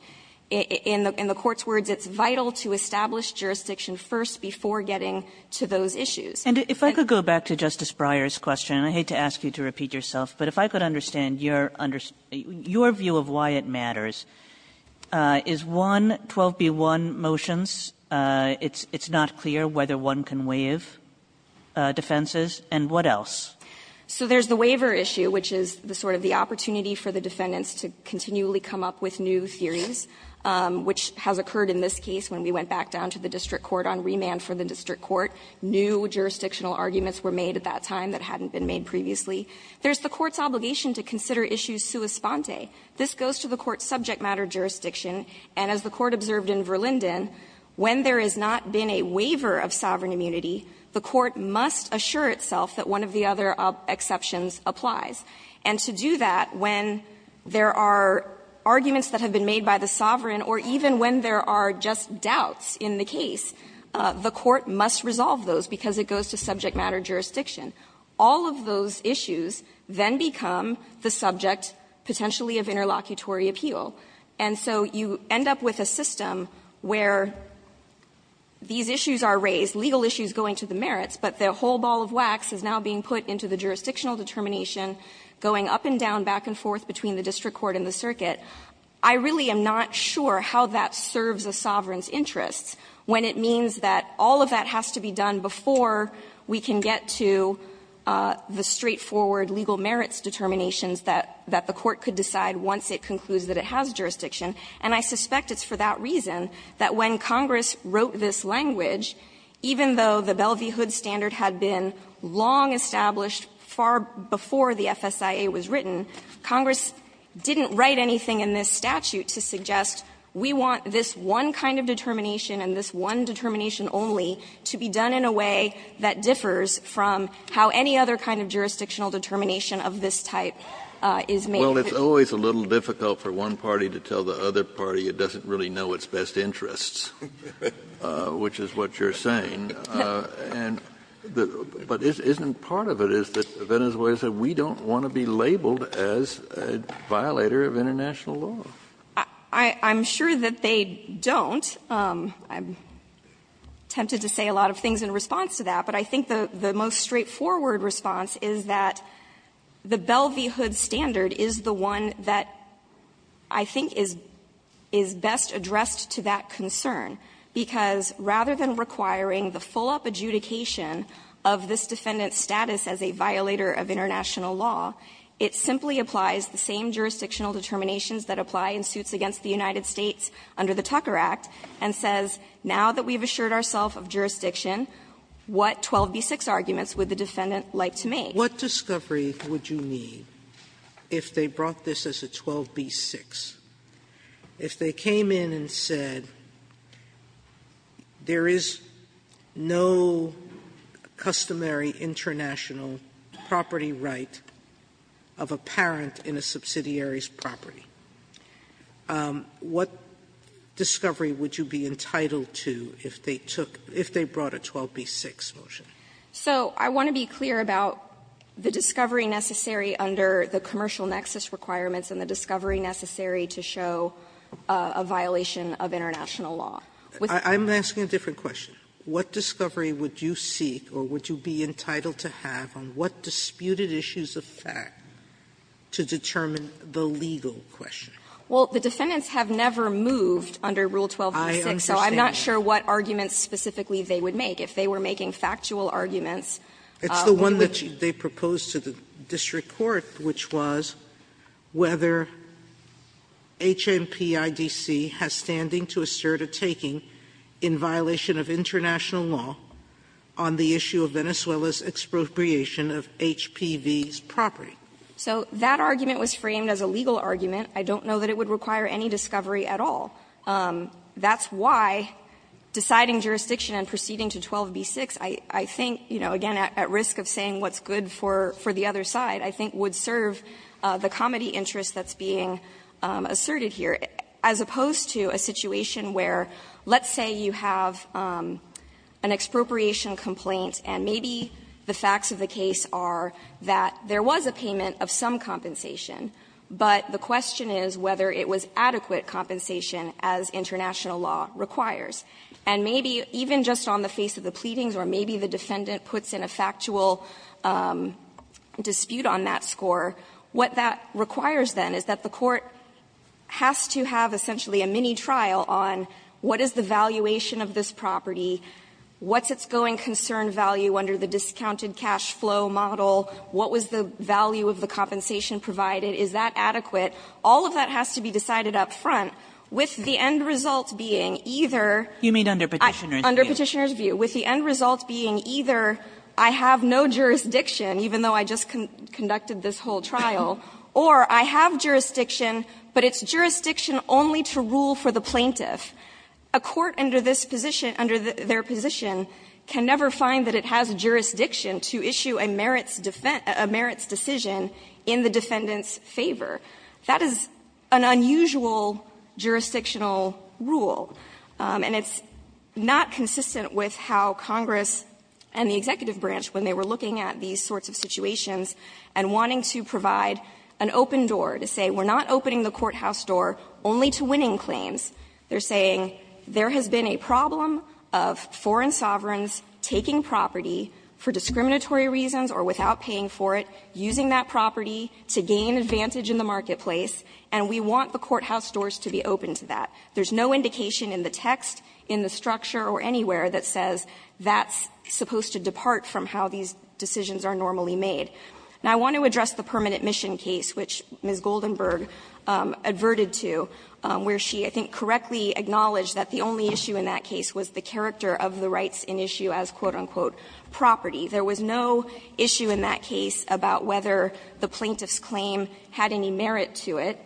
In the Court's words, it's vital to establish jurisdiction first before getting to those issues. Kagan And if I could go back to Justice Breyer's question, and I hate to ask you to repeat yourself, but if I could understand your view of why it matters, is one, 12b-1 motions, it's not clear whether one can waive defenses, and what else? Anderson So there's the waiver issue, which is the sort of the opportunity for the defendants to continually come up with new theories, which has occurred in this case when we went back down to the district court on remand for the district court. New jurisdictional arguments were made at that time that hadn't been made previously. There's the Court's obligation to consider issues sua sponte. This goes to the Court's subject matter jurisdiction, and as the Court observed in Verlinden, when there has not been a waiver of sovereign immunity, the Court must assure itself that one of the other exceptions applies. And to do that when there are arguments that have been made by the sovereign or even when there are just doubts in the case, the Court must resolve those because it goes to subject matter jurisdiction. All of those issues then become the subject potentially of interlocutory appeal. And so you end up with a system where these issues are raised, legal issues going to the merits, but the whole ball of wax is now being put into the jurisdictional determination going up and down, back and forth between the district court and the circuit. I really am not sure how that serves a sovereign's interests when it means that all of that has to be done before we can get to the straightforward legal merits determinations that the Court could decide once it concludes that it has jurisdiction. And I suspect it's for that reason that when Congress wrote this language, even though the Belle v. Hood standard had been long established far before the FSIA was written, Congress didn't write anything in this statute to suggest we want this one kind of jurisdiction to be done in a way that differs from how any other kind of jurisdictional determination of this type is made. Kennedy, Well, it's always a little difficult for one party to tell the other party it doesn't really know its best interests, which is what you're saying. And the — but isn't part of it is that Venezuela said we don't want to be labeled as a violator of international law? I'm sure that they don't. I'm tempted to say a lot of things in response to that, but I think the most straightforward response is that the Belle v. Hood standard is the one that I think is best addressed to that concern, because rather than requiring the full-up adjudication of this defendant's status as a violator of international law, it simply applies the same jurisdictional determinations that apply in suits against the United States under the Tucker Act and says, now that we've assured ourself of jurisdiction, what 12b-6 arguments would the defendant like to make? Sotomayor, What discovery would you need if they brought this as a 12b-6, if they came in and said there is no customary international property right of a parent to have in a subsidiary's property? What discovery would you be entitled to if they took — if they brought a 12b-6 motion? So I want to be clear about the discovery necessary under the commercial nexus requirements and the discovery necessary to show a violation of international law. I'm asking a different question. What discovery would you seek or would you be entitled to have on what disputed issues of fact to determine the legal question? Well, the defendants have never moved under Rule 12b-6, so I'm not sure what arguments specifically they would make. If they were making factual arguments, would you? It's the one that they proposed to the district court, which was whether HMPIDC has standing to assert a taking in violation of international law on the issue of Venezuela's expropriation of HPV's property. So that argument was framed as a legal argument. I don't know that it would require any discovery at all. That's why deciding jurisdiction and proceeding to 12b-6, I think, you know, again, at risk of saying what's good for the other side, I think would serve the comity interest that's being asserted here, as opposed to a situation where, let's say you have an expropriation complaint, and maybe the facts of the case are that there was a payment of some compensation, but the question is whether it was adequate compensation as international law requires. And maybe even just on the face of the pleadings, or maybe the defendant puts in a factual dispute on that score, what that requires, then, is that the court has to have essentially a mini-trial on what is the valuation of this property, what's its going concern value under the discounted cash flow model, what was the value of the compensation provided, is that adequate. All of that has to be decided up front, with the end result being either under Petitioner's view, with the end result being either I have no jurisdiction, even though I just conducted this whole trial, or I have jurisdiction, but it's jurisdiction only to rule for the plaintiff. A court under this position, under their position, can never find that it has jurisdiction to issue a merits defense, a merits decision in the defendant's favor. That is an unusual jurisdictional rule, and it's not consistent with how Congress and the executive branch, when they were looking at these sorts of situations, and wanting to provide an open door, to say we're not opening the courthouse door only to winning claims. They're saying there has been a problem of foreign sovereigns taking property for discriminatory reasons or without paying for it, using that property to gain advantage in the marketplace, and we want the courthouse doors to be open to that. There's no indication in the text, in the structure, or anywhere that says that's supposed to depart from how these decisions are normally made. Now, I want to address the permanent mission case, which Ms. Goldenberg adverted to, where she, I think, correctly acknowledged that the only issue in that case was the character of the rights in issue as, quote, unquote, property. There was no issue in that case about whether the plaintiff's claim had any merit to it.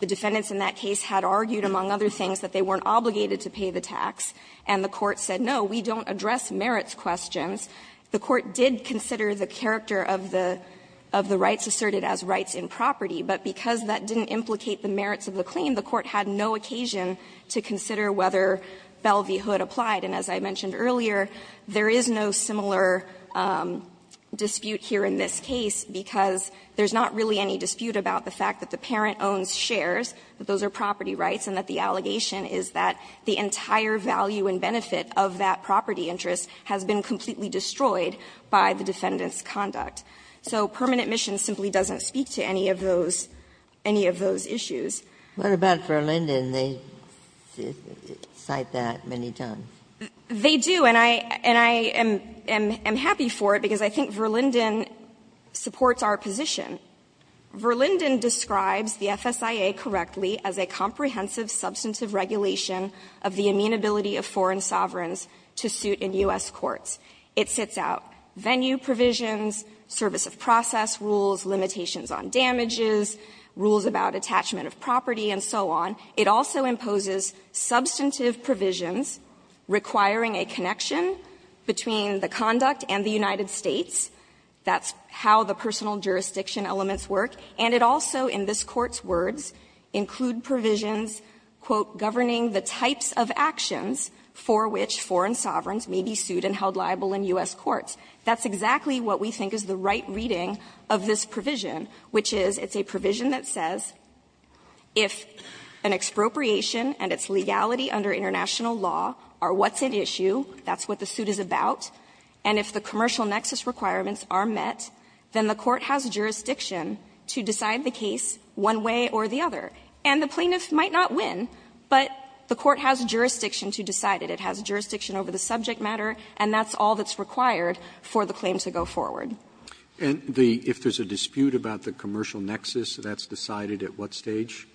The defendants in that case had argued, among other things, that they weren't obligated to pay the tax, and the Court said, no, we don't address merits questions. The Court did consider the character of the rights asserted as rights in property, but because that didn't implicate the merits of the claim, the Court had no occasion to consider whether Belle v. Hood applied. And as I mentioned earlier, there is no similar dispute here in this case, because there's not really any dispute about the fact that the parent owns shares, that those are property rights, and that the allegation is that the entire value and benefit of that property interest has been completely destroyed by the defendant's conduct. So permanent mission simply doesn't speak to any of those issues. Ginsburg. What about Verlinden? They cite that many times. They do, and I am happy for it, because I think Verlinden supports our position. Verlinden describes the FSIA correctly as a comprehensive substantive regulation of the amenability of foreign sovereigns to suit in U.S. courts. It sets out venue provisions, service of process rules, limitations on damages, rules about attachment of property, and so on. It also imposes substantive provisions requiring a connection between the conduct and the United States. That's how the personal jurisdiction elements work. And it also, in this Court's words, include provisions, quote, governing the types of actions for which foreign sovereigns may be sued and held liable in U.S. courts. That's exactly what we think is the right reading of this provision, which is it's a provision that says if an expropriation and its legality under international law are what's at issue, that's what the suit is about, and if the commercial nexus, that's decided at what stage,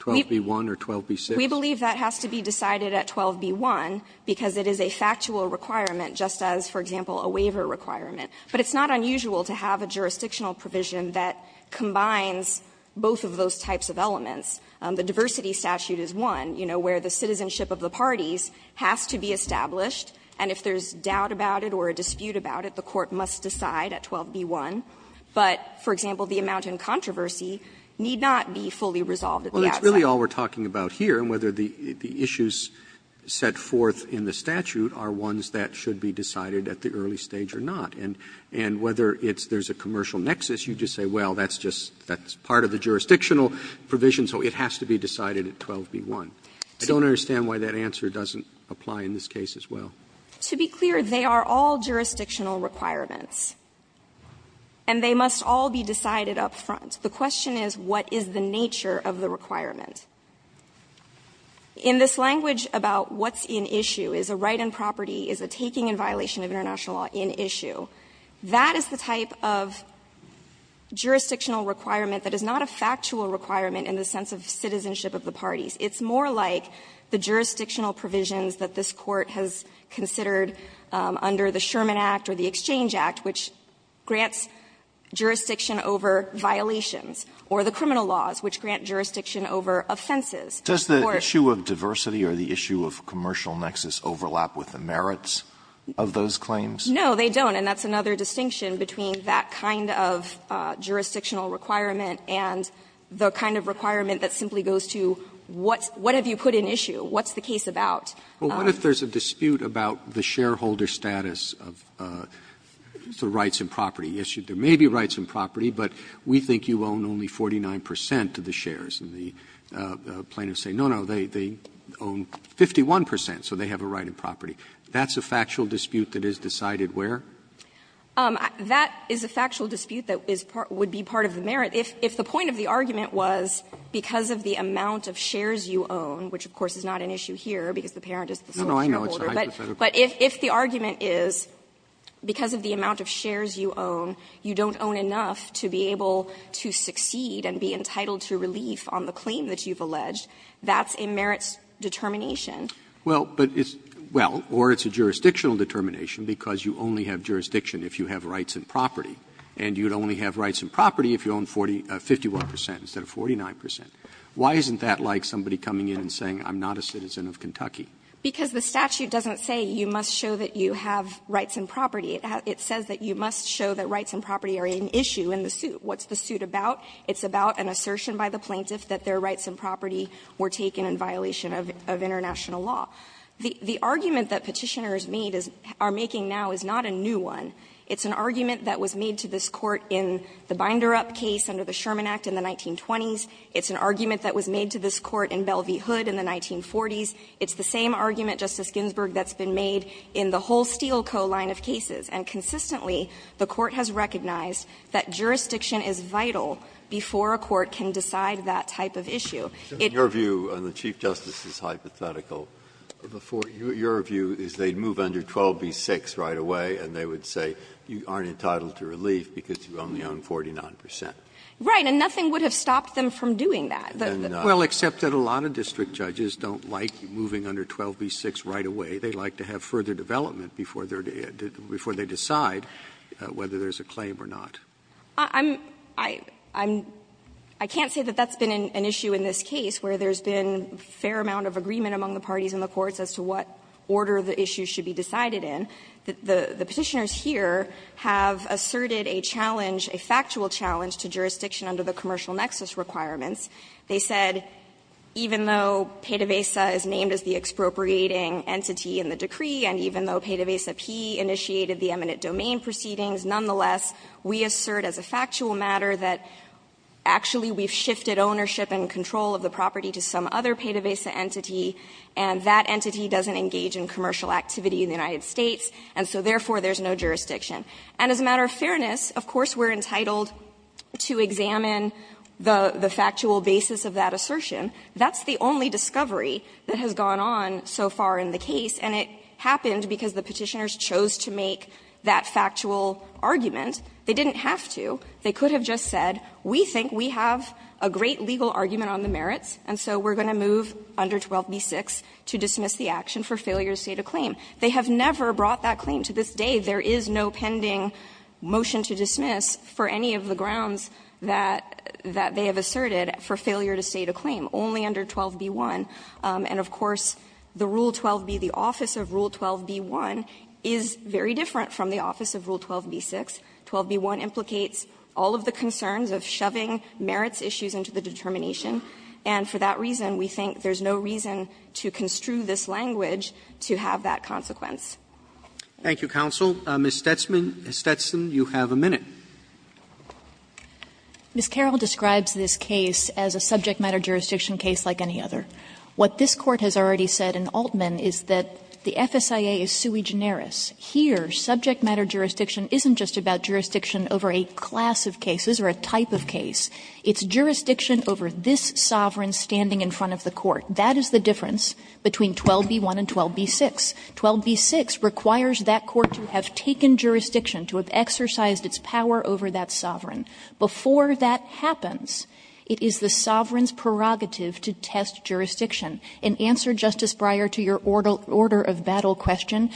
12b-1 or 12b-6? We believe that has to be decided at 12b-1, because it is a factual requirement, just as, for example, a waiver requirement. But it's not unusual to have a jurisdictional provision that combines the terms of the diversity statute is one, you know, where the citizenship of the parties has to be established, and if there's doubt about it or a dispute about it, the court must decide at 12b-1. But, for example, the amount in controversy need not be fully resolved at the outset. Roberts, Well, that's really all we're talking about here, and whether the issues set forth in the statute are ones that should be decided at the early stage or not. And whether it's there's a commercial nexus, you just say, well, that's just part of the jurisdictional provision, so it has to be decided at 12b-1. I don't understand why that answer doesn't apply in this case as well. To be clear, they are all jurisdictional requirements, and they must all be decided up front. The question is, what is the nature of the requirement? In this language about what's in issue, is a right on property, is a taking in violation of international law in issue, that is the type of jurisdictional requirement that is not a factual requirement in the sense of citizenship of the parties. It's more like the jurisdictional provisions that this Court has considered under the Sherman Act or the Exchange Act, which grants jurisdiction over violations or the criminal laws, which grant jurisdiction over offenses. Alitoso, does the issue of diversity or the issue of commercial nexus overlap with the merits of those claims? No, they don't, and that's another distinction between that kind of jurisdictional requirement and the kind of requirement that simply goes to, what have you put in issue? What's the case about? Roberts, what if there's a dispute about the shareholder status of the rights in property issue? There may be rights in property, but we think you own only 49 percent of the shares. And the plaintiffs say, no, no, they own 51 percent, so they have a right in property. That's a factual dispute that is decided where? That is a factual dispute that would be part of the merit. If the point of the argument was, because of the amount of shares you own, which of course is not an issue here because the parent is the sole shareholder. But if the argument is, because of the amount of shares you own, you don't own enough to be able to succeed and be entitled to relief on the claim that you've alleged, that's a merits determination. Well, but it's or it's a jurisdictional determination because you only have jurisdiction if you have rights in property. And you'd only have rights in property if you own 51 percent instead of 49 percent. Why isn't that like somebody coming in and saying, I'm not a citizen of Kentucky? Because the statute doesn't say you must show that you have rights in property. It says that you must show that rights in property are an issue in the suit. What's the suit about? It's about an assertion by the plaintiff that their rights in property were taken in violation of international law. The argument that Petitioners made, are making now, is not a new one. It's an argument that was made to this Court in the Binder Up case under the Sherman Act in the 1920s. It's an argument that was made to this Court in Belle v. Hood in the 1940s. It's the same argument, Justice Ginsburg, that's been made in the whole Steele Co. line of cases. And consistently, the Court has recognized that jurisdiction is vital before a court can decide that type of issue. Breyer. In your view, and the Chief Justice is hypothetical, your view is they'd move under 12b-6 right away and they would say you aren't entitled to relief because you only own 49 percent. Right. And nothing would have stopped them from doing that. Well, except that a lot of district judges don't like moving under 12b-6 right away. They like to have further development before they decide whether there's a claim or not. I'm — I can't say that that's been an issue in this case where there's been a fair amount of agreement among the parties in the courts as to what order the issue should be decided in. The Petitioners here have asserted a challenge, a factual challenge to jurisdiction under the commercial nexus requirements. They said even though Pena-Vesa is named as the expropriating entity in the decree and even though Pena-Vesa P initiated the eminent domain proceedings, nonetheless, we assert as a factual matter that actually we've shifted ownership and control of the property to some other Pena-Vesa entity, and that entity doesn't engage in commercial activity in the United States, and so therefore there's no jurisdiction. And as a matter of fairness, of course, we're entitled to examine the factual basis of that assertion. That's the only discovery that has gone on so far in the case, and it happened because the Petitioners chose to make that factual argument. They didn't have to. They could have just said, we think we have a great legal argument on the merits, and so we're going to move under 12b-6 to dismiss the action for failure to state a claim. They have never brought that claim to this day. There is no pending motion to dismiss for any of the grounds that they have asserted for failure to state a claim, only under 12b-1. And, of course, the Rule 12b, the office of Rule 12b-1 is very different from the office of Rule 12b-6. 12b-1 implicates all of the concerns of shoving merits issues into the determination, and for that reason we think there's no reason to construe this language to have that consequence. Roberts. Thank you, counsel. Ms. Stetson, you have a minute. Ms. Carroll describes this case as a subject matter jurisdiction case like any other. What this Court has already said in Altman is that the FSIA is sui generis. Here, subject matter jurisdiction isn't just about jurisdiction over a class of cases or a type of case. It's jurisdiction over this sovereign standing in front of the court. That is the difference between 12b-1 and 12b-6. 12b-6 requires that court to have taken jurisdiction, to have exercised its power over that sovereign. Before that happens, it is the sovereign's prerogative to test jurisdiction. In answer, Justice Breyer, to your order of battle question,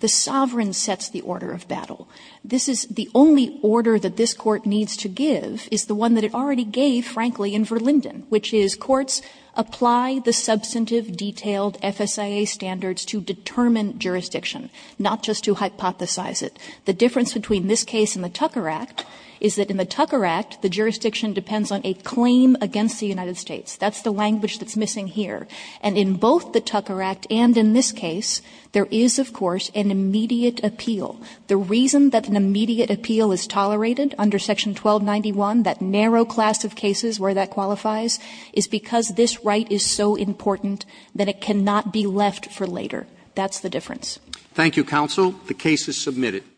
the sovereign sets the order of battle. This is the only order that this Court needs to give is the one that it already gave, frankly, in Verlinden, which is courts apply the substantive, detailed FSIA standards to determine jurisdiction, not just to hypothesize it. The difference between this case and the Tucker Act is that in the Tucker Act, the jurisdiction depends on a claim against the United States. That's the language that's missing here. And in both the Tucker Act and in this case, there is, of course, an immediate appeal. The reason that an immediate appeal is tolerated under Section 1291, that narrow class of cases where that qualifies, is because this right is so important that it cannot be left for later. That's the difference. Roberts. Thank you, counsel. The case is submitted.